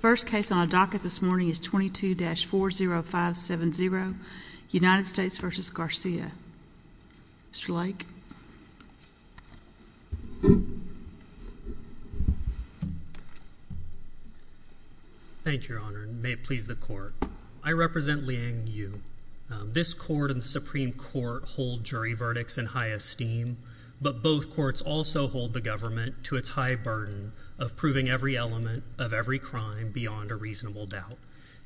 First case on the docket this morning is 22-40570, United States v. Garcia. Mr. Lake. Thank you, Your Honor, and may it please the Court. I represent Liang Yu. This Court and the Supreme Court hold jury verdicts in high esteem, but both courts also hold the government to its high burden of proving every element of every crime beyond a reasonable doubt.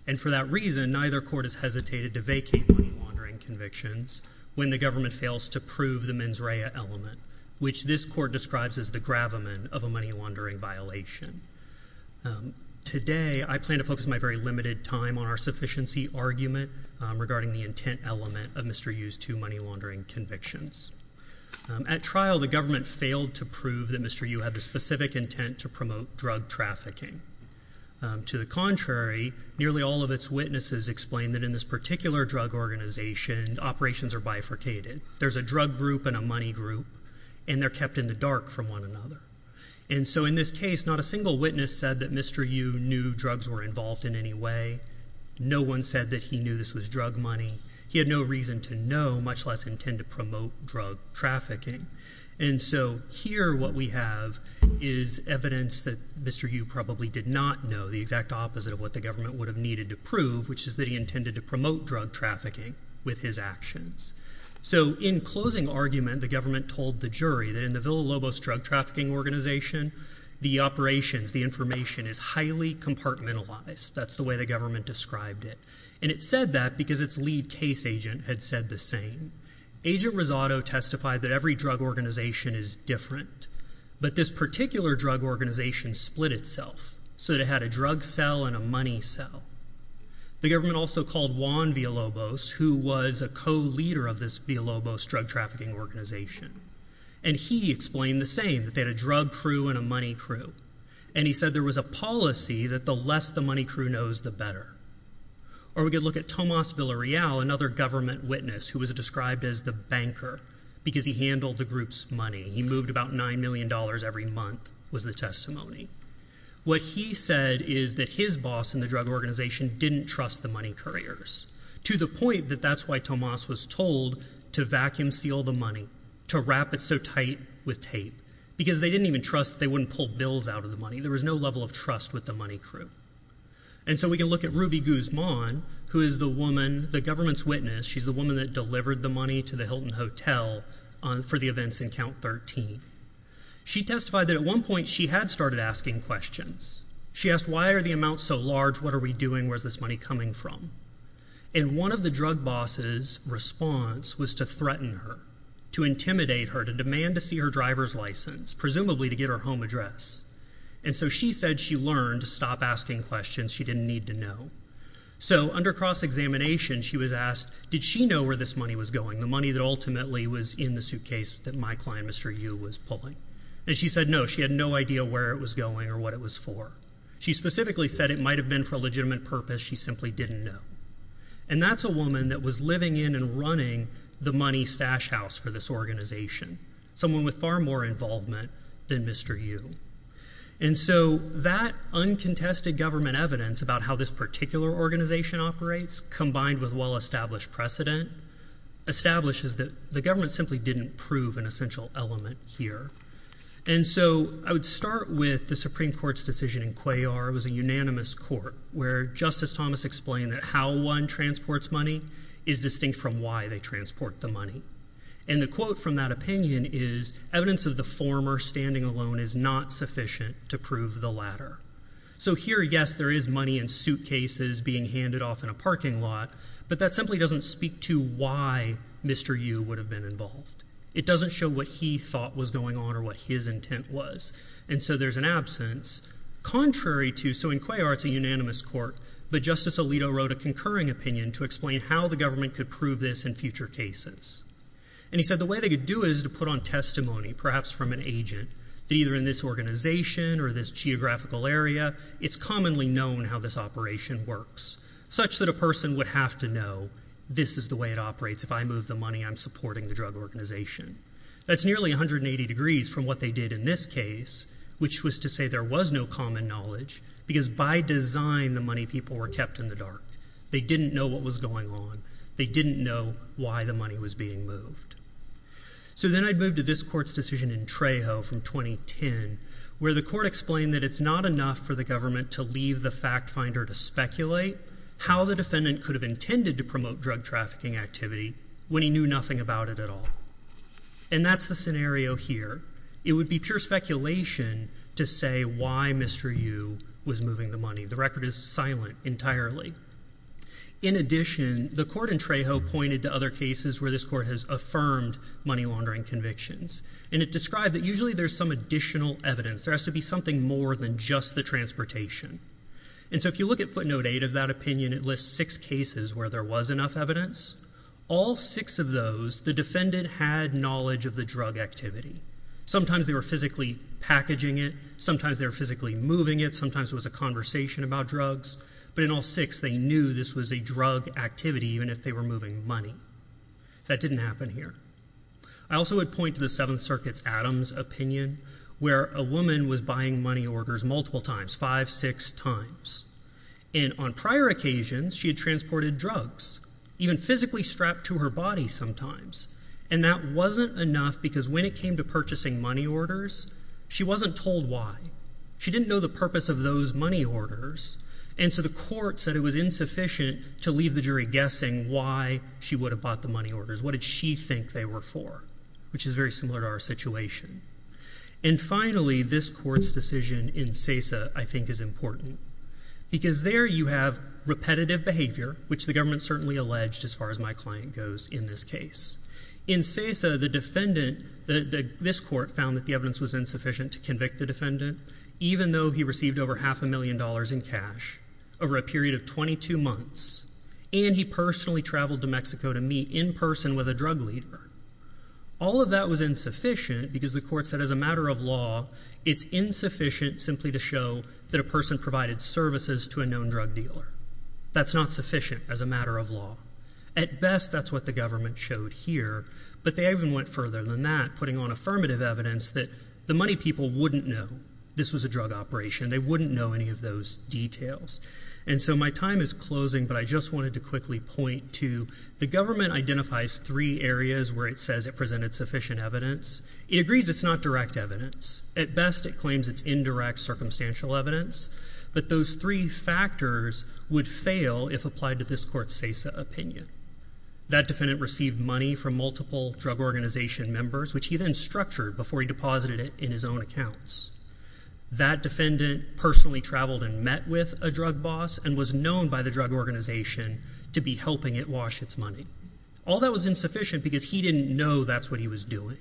And for that reason, neither court has hesitated to vacate money-laundering convictions when the government fails to prove the mens rea element, which this Court describes as the gravamen of a money-laundering violation. Today I plan to focus my very limited time on our sufficiency argument regarding the intent element of Mr. Yu's two money-laundering convictions. At trial, the government failed to prove that Mr. Yu had the specific intent to promote drug trafficking. To the contrary, nearly all of its witnesses explained that in this particular drug organization, operations are bifurcated. There's a drug group and a money group, and they're kept in the dark from one another. And so in this case, not a single witness said that Mr. Yu knew drugs were involved in any way. No one said that he knew this was drug money. He had no reason to know, much less intend to promote drug trafficking. And so here what we have is evidence that Mr. Yu probably did not know the exact opposite of what the government would have needed to prove, which is that he intended to promote drug trafficking with his actions. So in closing argument, the government told the jury that in the Villa Lobos drug trafficking organization, the operations, the information is highly compartmentalized. That's the way the government described it. And it said that because its lead case agent had said the same. Agent Rosado testified that every drug organization is different, but this particular drug organization split itself so that it had a drug cell and a money cell. The government also called Juan Villa Lobos, who was a co-leader of this Villa Lobos drug trafficking organization. And he explained the same, that they had a drug crew and a money crew. And he said there was a policy that the less the money crew knows, the better. Or we could look at Tomas Villa Real, another government witness who was described as the banker, because he handled the group's money. He moved about $9 million every month, was the testimony. What he said is that his boss in the drug organization didn't trust the money couriers, to the point that that's why Tomas was told to vacuum seal the money, to wrap it so tight with tape, because they didn't even trust that they wouldn't pull bills out of the money. There was no level of trust with the money crew. And so we can look at Ruby Guzman, who is the woman, the government's witness. She's the woman that delivered the money to the Hilton Hotel for the events in Count 13. She testified that at one point she had started asking questions. She asked, why are the amounts so large? What are we doing? Where's this money coming from? And one of the drug boss's response was to threaten her, to intimidate her, to demand to see her driver's license, presumably to get her home address. And so she said she learned to stop asking questions she didn't need to know. So under cross-examination, she was asked, did she know where this money was going, the money that ultimately was in the suitcase that my client, Mr. Yu, was pulling? And she said no, she had no idea where it was going or what it was for. She specifically said it might have been for a legitimate purpose. She simply didn't know. And that's a woman that was living in and running the money stash house for this organization. Someone with far more involvement than Mr. Yu. And so that uncontested government evidence about how this particular organization operates, combined with well-established precedent, establishes that the government simply didn't prove an essential element here. And so I would start with the Supreme Court's decision in Cuellar. It was a unanimous court where Justice Thomas explained that how one transports money is distinct from why they transport the money. And the quote from that opinion is, evidence of the former standing alone is not sufficient to prove the latter. So here, yes, there is money in suitcases being handed off in a parking lot, but that simply doesn't speak to why Mr. Yu would have been involved. It doesn't show what he thought was going on or what his intent was. And so there's an absence, contrary to, so in Cuellar it's a unanimous court, but Justice Alito wrote a concurring opinion to explain how the government could prove this in future cases. And he said the way they could do it is to put on testimony, perhaps from an agent, that either in this organization or this geographical area, it's commonly known how this operation works, such that a person would have to know, this is the way it operates. If I move the money, I'm supporting the drug organization. That's nearly 180 degrees from what they did in this case, which was to say there was no common knowledge, because by design, the money people were kept in the dark. They didn't know what was going on. They didn't know why the money was being moved. So then I moved to this court's decision in Trejo from 2010, where the court explained that it's not enough for the government to leave the fact finder to speculate how the defendant could have intended to promote drug trafficking activity when he knew nothing about it at all. And that's the scenario here. It would be pure speculation to say why Mr. Yu was moving the money. The record is silent entirely. In addition, the court in Trejo pointed to other cases where this court has affirmed money laundering convictions, and it described that usually there's some additional evidence. There has to be something more than just the transportation. And so if you look at footnote eight of that opinion, it lists six cases where there was enough evidence. All six of those, the defendant had knowledge of the drug activity. Sometimes they were physically packaging it. Sometimes they were physically moving it. Sometimes it was a conversation about drugs. But in all six, they knew this was a drug activity, even if they were moving money. That didn't happen here. I also would point to the Seventh Circuit's Adams opinion, where a woman was buying money orders multiple times, five, six times. And on prior occasions, she had transported drugs, even physically strapped to her body sometimes. And that wasn't enough because when it came to purchasing money orders, she wasn't told why. She didn't know the purpose of those money orders. And so the court said it was insufficient to leave the jury guessing why she would have bought the money orders. What did she think they were for, which is very similar to our situation. And finally, this court's decision in SESA, I think, is important because there you have repetitive behavior, which the government certainly alleged, as far as my client goes, in this case. In SESA, the defendant, this court, found that the evidence was insufficient to convict the defendant, even though he received over half a million dollars in cash over a period of 22 months, and he personally traveled to Mexico to meet in person with a drug leader. All of that was insufficient because the court said as a matter of law, it's insufficient simply to show that a person provided services to a known drug dealer. That's not sufficient as a matter of law. At best, that's what the government showed here. But they even went further than that, putting on affirmative evidence that the money people wouldn't know this was a drug operation. They wouldn't know any of those details. And so my time is closing, but I just wanted to quickly point to the government identifies three areas where it says it presented sufficient evidence. It agrees it's not direct evidence. At best, it claims it's indirect circumstantial evidence. But those three factors would fail if applied to this court's SESA opinion. That defendant received money from multiple drug organization members, which he then structured before he deposited it in his own accounts. That defendant personally traveled and met with a drug boss and was known by the drug organization to be helping it wash its money. All that was insufficient because he didn't know that's what he was doing.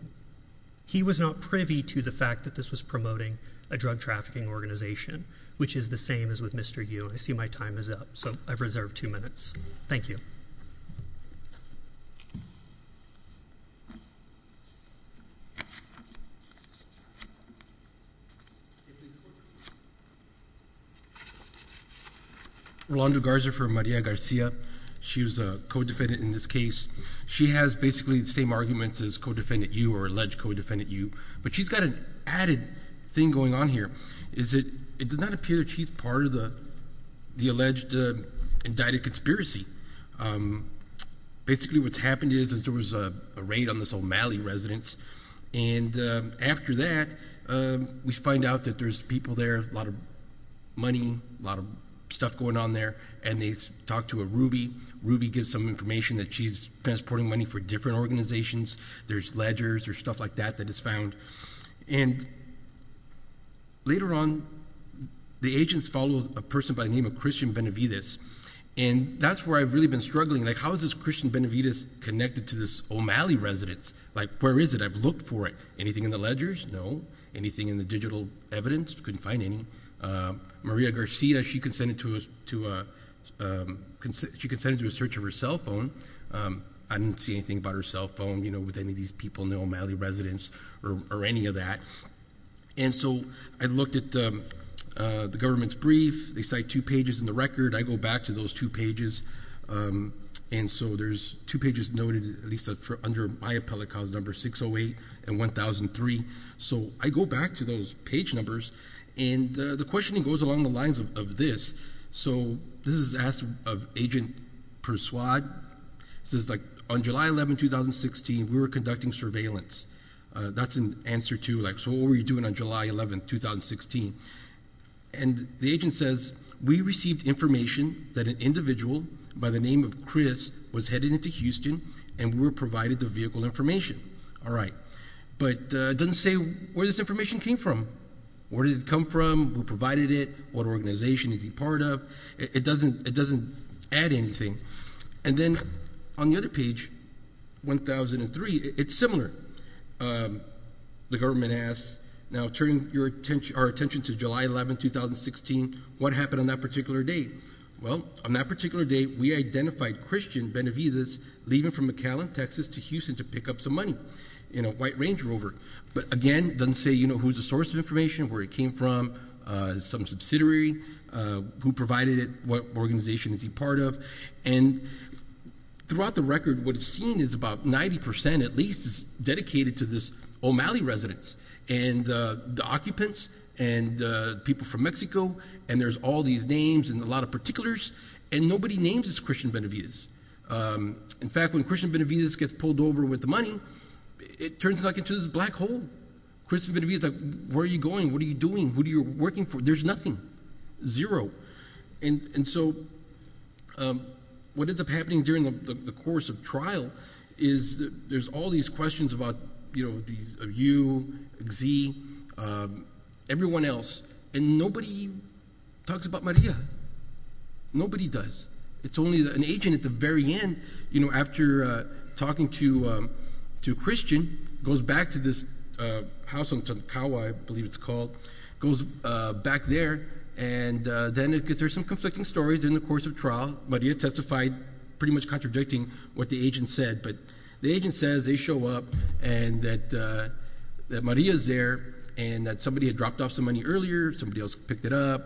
He was not privy to the fact that this was promoting a drug trafficking organization, which is the same as with Mr. Yu. I see my time is up, so I've reserved two minutes. Thank you. Rolando Garza for Maria Garcia. She was a co-defendant in this case. She has basically the same arguments as co-defendant Yu or alleged co-defendant Yu. But she's got an added thing going on here, is that it does not appear that she's part of the alleged indicted conspiracy. Basically what's happened is that there was a raid on this O'Malley residence. After that, we find out that there's people there, a lot of money, a lot of stuff going on there. They talked to a Ruby. Ruby gives some information that she's transporting money for different organizations. There's ledgers. There's stuff like that that is found. Later on, the agents followed a person by the name of Christian Benavides. That's where I've really been struggling. How is this Christian Benavides connected to this O'Malley residence? Where is it? I've looked for it. Anything in the ledgers? No. Anything in the digital evidence? Couldn't find any. Maria Garcia, she consented to a search of her cell phone. I didn't see anything about her cell phone with any of these people in the O'Malley residence or any of that. I looked at the government's brief. They cite two pages in the record. I go back to those two pages. There's two pages noted, at least under my appellate cause number, 608 and 1003. I go back to those page numbers. The questioning goes along the lines of this. This is asked of Agent Persuade. It says, on July 11, 2016, we were conducting surveillance. That's an answer to, so what were you doing on July 11, 2016? The agent says, we received information that an individual by the name of Chris was headed into Houston and we were provided the vehicle information. All right. It doesn't say where this information came from. Where did it come from? Who provided it? What organization is he part of? It doesn't add anything. Then, on the other page, 1003, it's similar. The government asks, now turning our attention to July 11, 2016, what happened on that particular date? Well, on that particular date, we identified Christian Benavides leaving from McAllen, Texas to Houston to pick up some money in a white Range Rover. Again, it doesn't say who's the source of information, where it came from, some subsidiary, who provided it, what organization is he part of. Throughout the record, what is seen is about 90%, at least, is dedicated to this O'Malley residence and the occupants and the people from Mexico. There's all these names and a lot of particulars, and nobody names as Christian Benavides. In fact, when Christian Benavides gets pulled over with the money, it turns into this black hole. Christian Benavides, where are you going? What are you doing? Who are you working for? There's nothing, zero. And so, what ends up happening during the course of trial is there's all these questions about you, Xie, everyone else, and nobody talks about Maria. Nobody does. It's only an agent at the very end, after talking to Christian, goes back to this house in Tongkawa, I believe it's called, goes back there, and then there's some conflicting stories in the course of trial. Maria testified, pretty much contradicting what the agent said, but the agent says they show up and that Maria's there and that somebody had dropped off some money earlier, somebody else picked it up,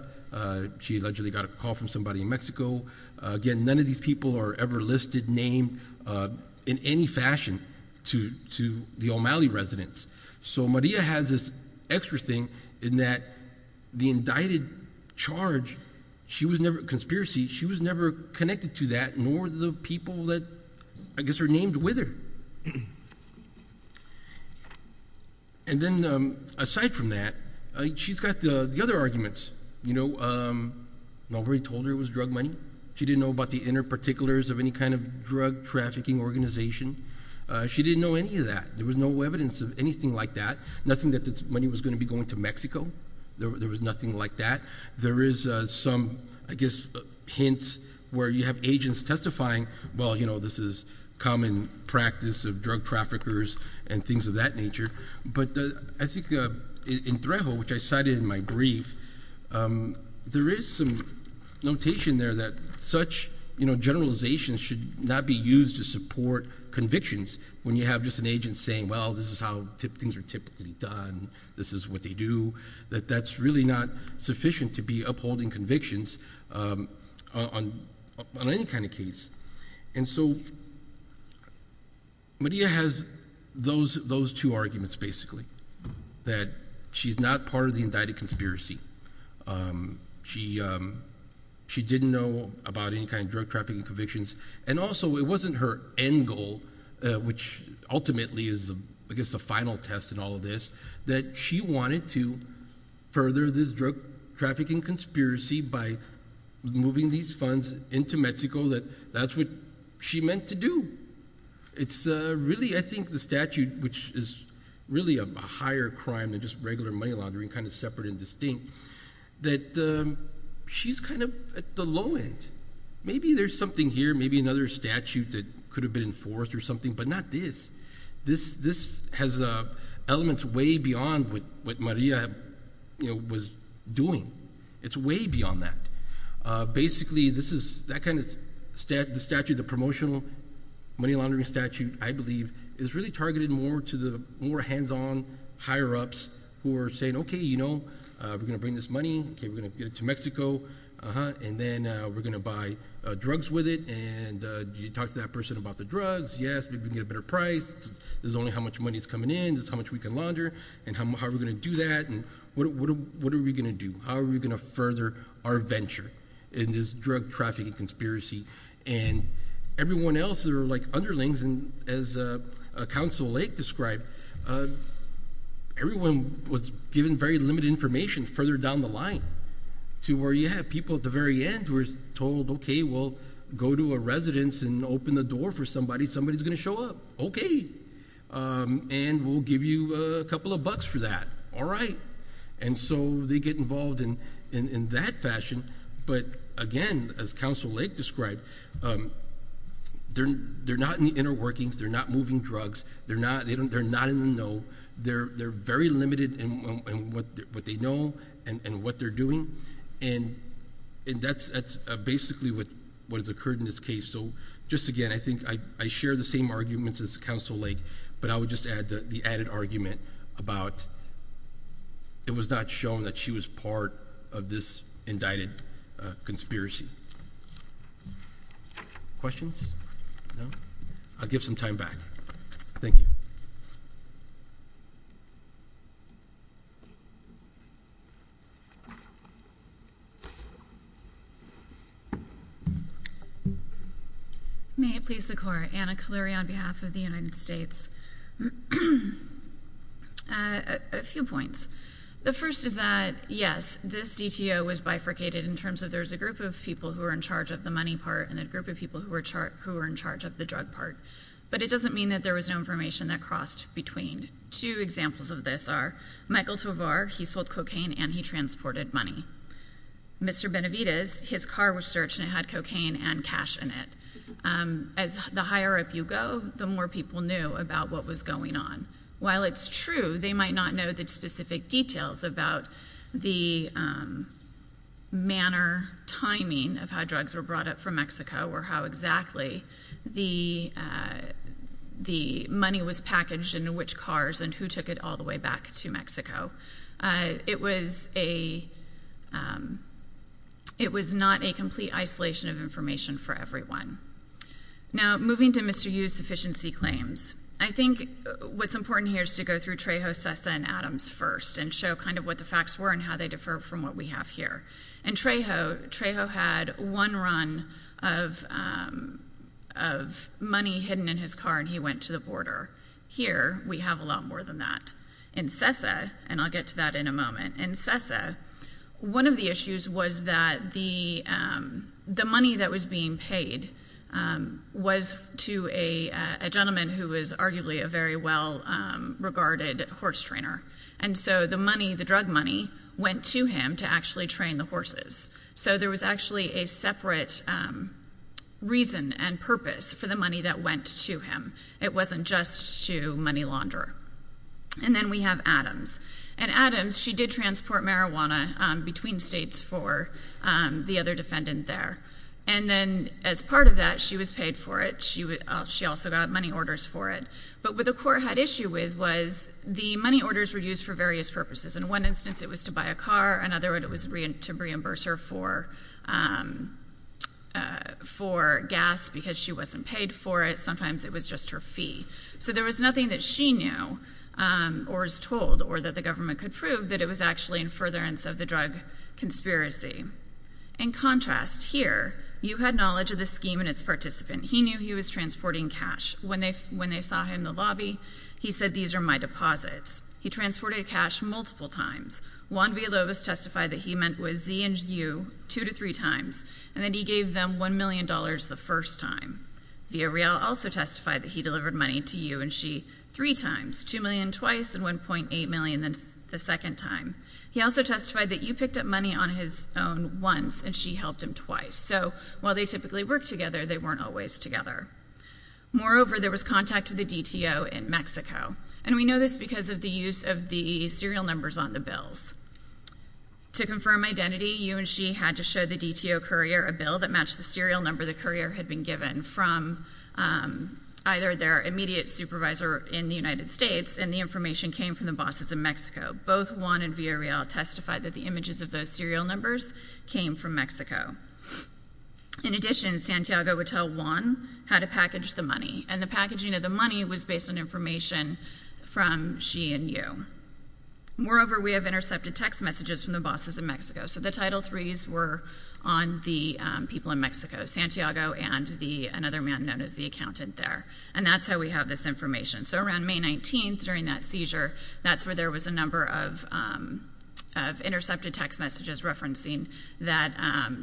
she allegedly got a call from somebody in Mexico. Again, none of these people are ever listed, named in any fashion to the O'Malley residence. So Maria has this extra thing in that the indicted charge, she was never, conspiracy, she was never connected to that, nor the people that, I guess, are named with her. And then, aside from that, she's got the other arguments, you know, nobody told her it was drug money. She didn't know about the inner particulars of any kind of drug trafficking organization. She didn't know any of that. There was no evidence of anything like that, nothing that the money was going to be going to Mexico, there was nothing like that. There is some, I guess, hints where you have agents testifying, well, you know, this is common practice of drug traffickers and things of that nature, but I think in Trejo, which I cited in my brief, there is some notation there that such, you know, generalizations should not be used to support convictions when you have just an agent saying, well, this is how things are typically done, this is what they do, that that's really not sufficient to be upholding convictions on any kind of case. And so Maria has those two arguments, basically, that she's not part of the indicted conspiracy. She didn't know about any kind of drug trafficking convictions, and also it wasn't her end goal, which ultimately is, I guess, the final test in all of this, that she wanted to further this drug trafficking conspiracy by moving these funds into Mexico, that that's what she meant to do. It's really, I think, the statute, which is really a higher crime than just regular money laundering, kind of separate and distinct, that she's kind of at the low end. Maybe there's something here, maybe another statute that could have been enforced or something, but not this. This has elements way beyond what Maria was doing. It's way beyond that. Basically, this is, that kind of statute, the promotional money laundering statute, I believe, is really targeted more to the more hands-on higher-ups who are saying, okay, you know, we're going to bring this money, okay, we're going to get it to Mexico, and then we're going to buy drugs with it, and you talk to that person about the drugs, yes, we can get a better price, this is only how much money is coming in, this is how much we can launder, and how are we going to do that, and what are we going to do? How are we going to further our venture in this drug trafficking conspiracy? And everyone else that are like underlings, and as Council Lake described, everyone was given very limited information further down the line to where, yeah, people at the very end were told, okay, we'll go to a residence and open the door for somebody, somebody's going to show up, okay, and we'll give you a couple of bucks for that, all right. And so they get involved in that fashion, but again, as Council Lake described, they're not in the inner workings, they're not moving drugs, they're not in the know, they're very limited in what they know and what they're doing, and that's basically what has occurred in this case. So just again, I think I share the same arguments as Council Lake, but I would just add the it was not shown that she was part of this indicted conspiracy. Questions? No? I'll give some time back. Thank you. May it please the Court, Anna Kaleri on behalf of the United States. A few points. The first is that, yes, this DTO was bifurcated in terms of there was a group of people who were in charge of the money part and a group of people who were in charge of the drug part, but it doesn't mean that there was no information that crossed between. Two examples of this are Michael Tovar, he sold cocaine and he transported money. Mr. Benavidez, his car was searched and it had cocaine and cash in it. As the higher up you go, the more people knew about what was going on. While it's true, they might not know the specific details about the manner, timing of how drugs were brought up from Mexico or how exactly the money was packaged and which cars and who took it all the way back to Mexico. It was not a complete isolation of information for everyone. Now moving to Mr. Yu's sufficiency claims. I think what's important here is to go through Trejo, Cessa, and Adams first and show kind of what the facts were and how they differ from what we have here. In Trejo, Trejo had one run of money hidden in his car and he went to the border. Here we have a lot more than that. In Cessa, and I'll get to that in a moment, in Cessa, one of the issues was that the money that was being paid was to a gentleman who was arguably a very well regarded horse trainer. And so the money, the drug money, went to him to actually train the horses. So there was actually a separate reason and purpose for the money that went to him. It wasn't just to money launder. And then we have Adams. And Adams, she did transport marijuana between states for the other defendant there. And then as part of that, she was paid for it. She also got money orders for it. But what the court had issue with was the money orders were used for various purposes. In one instance, it was to buy a car. In another, it was to reimburse her for gas because she wasn't paid for it. Sometimes it was just her fee. So there was nothing that she knew, or was told, or that the government could prove, that it was actually in furtherance of the drug conspiracy. In contrast, here, you had knowledge of the scheme and its participant. He knew he was transporting cash. When they saw him in the lobby, he said, these are my deposits. He transported cash multiple times. Juan Villalobos testified that he met with Z and U two to three times. And then he gave them $1 million the first time. Villarreal also testified that he delivered money to you and she three times, $2 million twice, and $1.8 million the second time. He also testified that you picked up money on his own once, and she helped him twice. So while they typically work together, they weren't always together. Moreover, there was contact with the DTO in Mexico. And we know this because of the use of the serial numbers on the bills. To confirm identity, you and she had to show the DTO courier a bill that matched the serial number the courier had been given from either their immediate supervisor in the United States, and the information came from the bosses in Mexico. Both Juan and Villarreal testified that the images of those serial numbers came from Mexico. In addition, Santiago would tell Juan how to package the money. And the packaging of the money was based on information from she and you. Moreover, we have intercepted text messages from the bosses in Mexico. So the title threes were on the people in Mexico, Santiago and another man known as the accountant there, and that's how we have this information. So around May 19th, during that seizure, that's where there was a number of intercepted text messages referencing that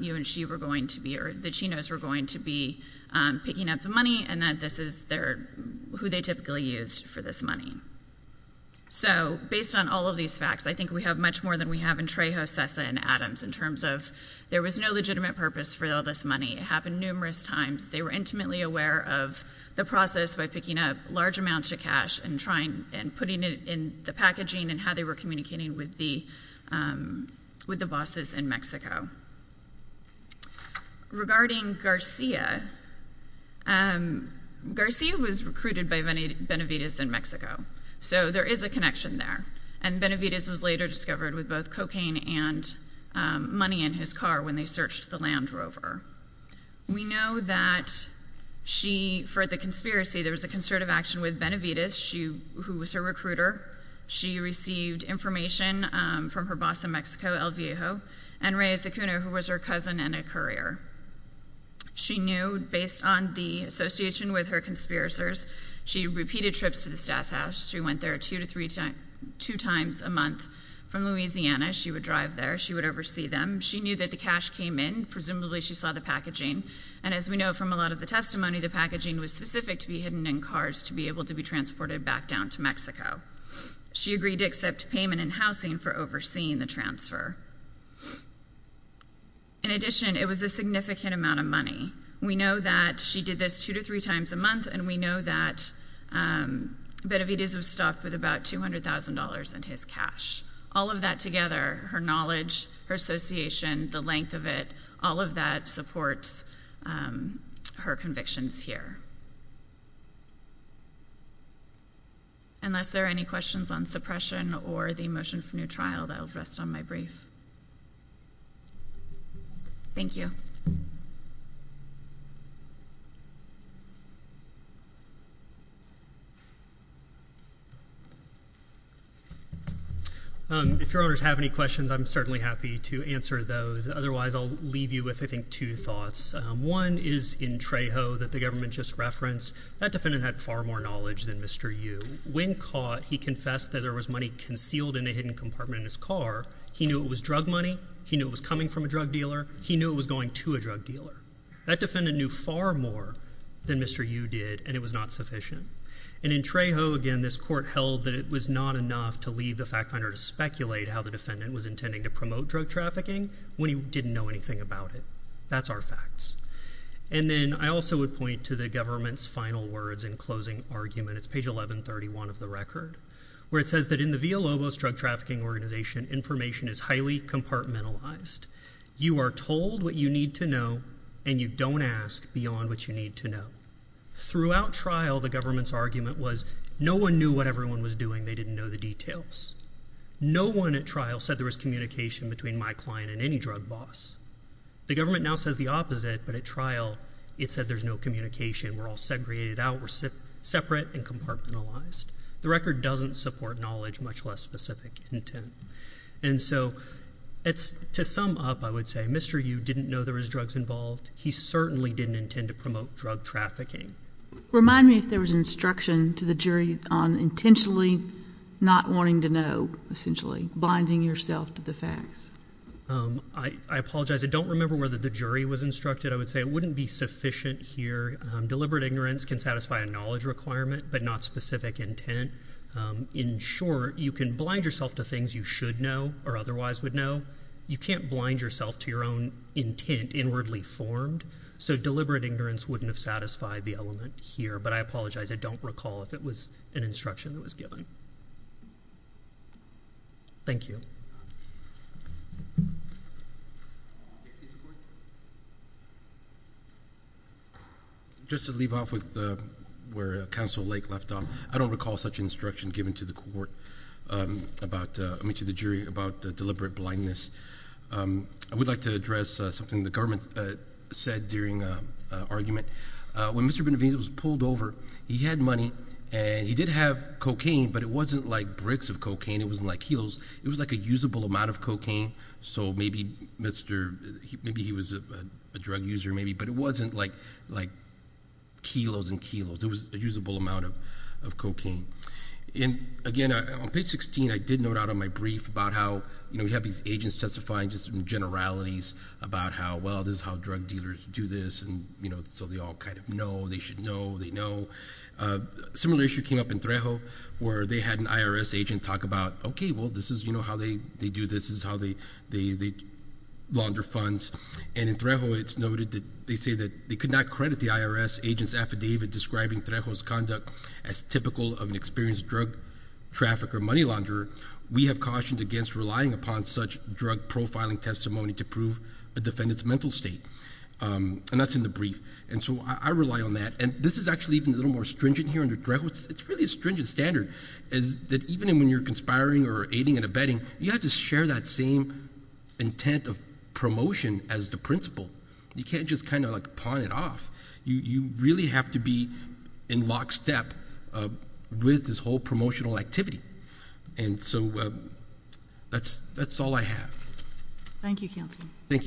you and she were going to be, or that she knows were going to be picking up the money, and that this is who they typically used for this money. So based on all of these facts, I think we have much more than we have in Trejo, Sessa, and Adams. In terms of, there was no legitimate purpose for all this money. It happened numerous times. They were intimately aware of the process by picking up large amounts of cash and trying and putting it in the packaging and how they were communicating with the bosses in Mexico. Regarding Garcia, Garcia was recruited by Benavides in Mexico. So there is a connection there. And Benavides was later discovered with both cocaine and money in his car when they searched the Land Rover. We know that she, for the conspiracy, there was a concerted action with Benavides, who was her recruiter. She received information from her boss in Mexico, El Viejo, and Reyes Acuna, who was her cousin and a courier. She knew, based on the association with her conspiracers, she repeated trips to the Stats House. She went there two times a month from Louisiana. She would drive there. She would oversee them. She knew that the cash came in. Presumably, she saw the packaging. And as we know from a lot of the testimony, the packaging was specific to be hidden in cars to be able to be transported back down to Mexico. She agreed to accept payment in housing for overseeing the transfer. In addition, it was a significant amount of money. We know that she did this two to three times a month, and we know that Benavides was stopped with about $200,000 in his cash. All of that together, her knowledge, her association, the length of it, all of that supports her convictions here. Unless there are any questions on suppression or the motion for new trial, I'll rest on my brief. Thank you. If your owners have any questions, I'm certainly happy to answer those. Otherwise, I'll leave you with, I think, two thoughts. One is in Trejo that the government just referenced. That defendant had far more knowledge than Mr. Yu. When caught, he confessed that there was money concealed in a hidden compartment in his car. He knew it was drug money. He knew it was coming from a drug dealer. He knew it was going to a drug dealer. That defendant knew far more than Mr. Yu did, and it was not sufficient. And in Trejo, again, this court held that it was not enough to leave the fact finder to speculate how the defendant was intending to promote drug trafficking when he didn't know anything about it. That's our facts. And then I also would point to the government's final words in closing argument. It's page 1131 of the record, where it says that in the Villalobos Drug Trafficking Organization, information is highly compartmentalized. You are told what you need to know, and you don't ask beyond what you need to know. Throughout trial, the government's argument was no one knew what everyone was doing. They didn't know the details. No one at trial said there was communication between my client and any drug boss. The government now says the opposite, but at trial, it said there's no communication. We're all segregated out. We're separate and compartmentalized. The record doesn't support knowledge, much less specific intent. And so to sum up, I would say Mr. Yu didn't know there was drugs involved. He certainly didn't intend to promote drug trafficking. Remind me if there was instruction to the jury on intentionally not wanting to know, essentially, blinding yourself to the facts. I apologize. I don't remember whether the jury was instructed. I would say it wouldn't be sufficient here. Deliberate ignorance can satisfy a knowledge requirement, but not specific intent. In short, you can blind yourself to things you should know or otherwise would know. You can't blind yourself to your own intent inwardly formed. So deliberate ignorance wouldn't have satisfied the element here. But I apologize. I don't recall if it was an instruction that was given. Thank you. Just to leave off with where Counsel Lake left off. I don't recall such instruction given to the jury about deliberate blindness. I would like to address something the government said during an argument. When Mr. Benavides was pulled over, he had money, and he did have cocaine, but it wasn't like bricks of cocaine. It wasn't like kilos. It was like a usable amount of cocaine. So maybe he was a drug user maybe, but it wasn't like kilos and kilos. It was a usable amount of cocaine. And again, on page 16, I did note out on my brief about how we have these agents testifying just in generalities about how, well, this is how drug dealers do this, and so they all kind of know, they should know, they know. Similar issue came up in Trejo, where they had an IRS agent talk about, okay, well, this is how they do this, this is how they launder funds. And in Trejo, it's noted that they say that they could not credit the IRS agent's affidavit describing Trejo's conduct as typical of an experienced drug trafficker, money launderer. We have cautions against relying upon such drug profiling testimony to prove a defendant's mental state. And that's in the brief. And so I rely on that. And this is actually even a little more stringent here under Trejo. It's really a stringent standard, is that even when you're conspiring or aiding and abetting, you have to share that same intent of promotion as the principal. You can't just kind of like pawn it off. You really have to be in lockstep with this whole promotional activity. And so that's all I have. Thank you, Counselor. Thank you.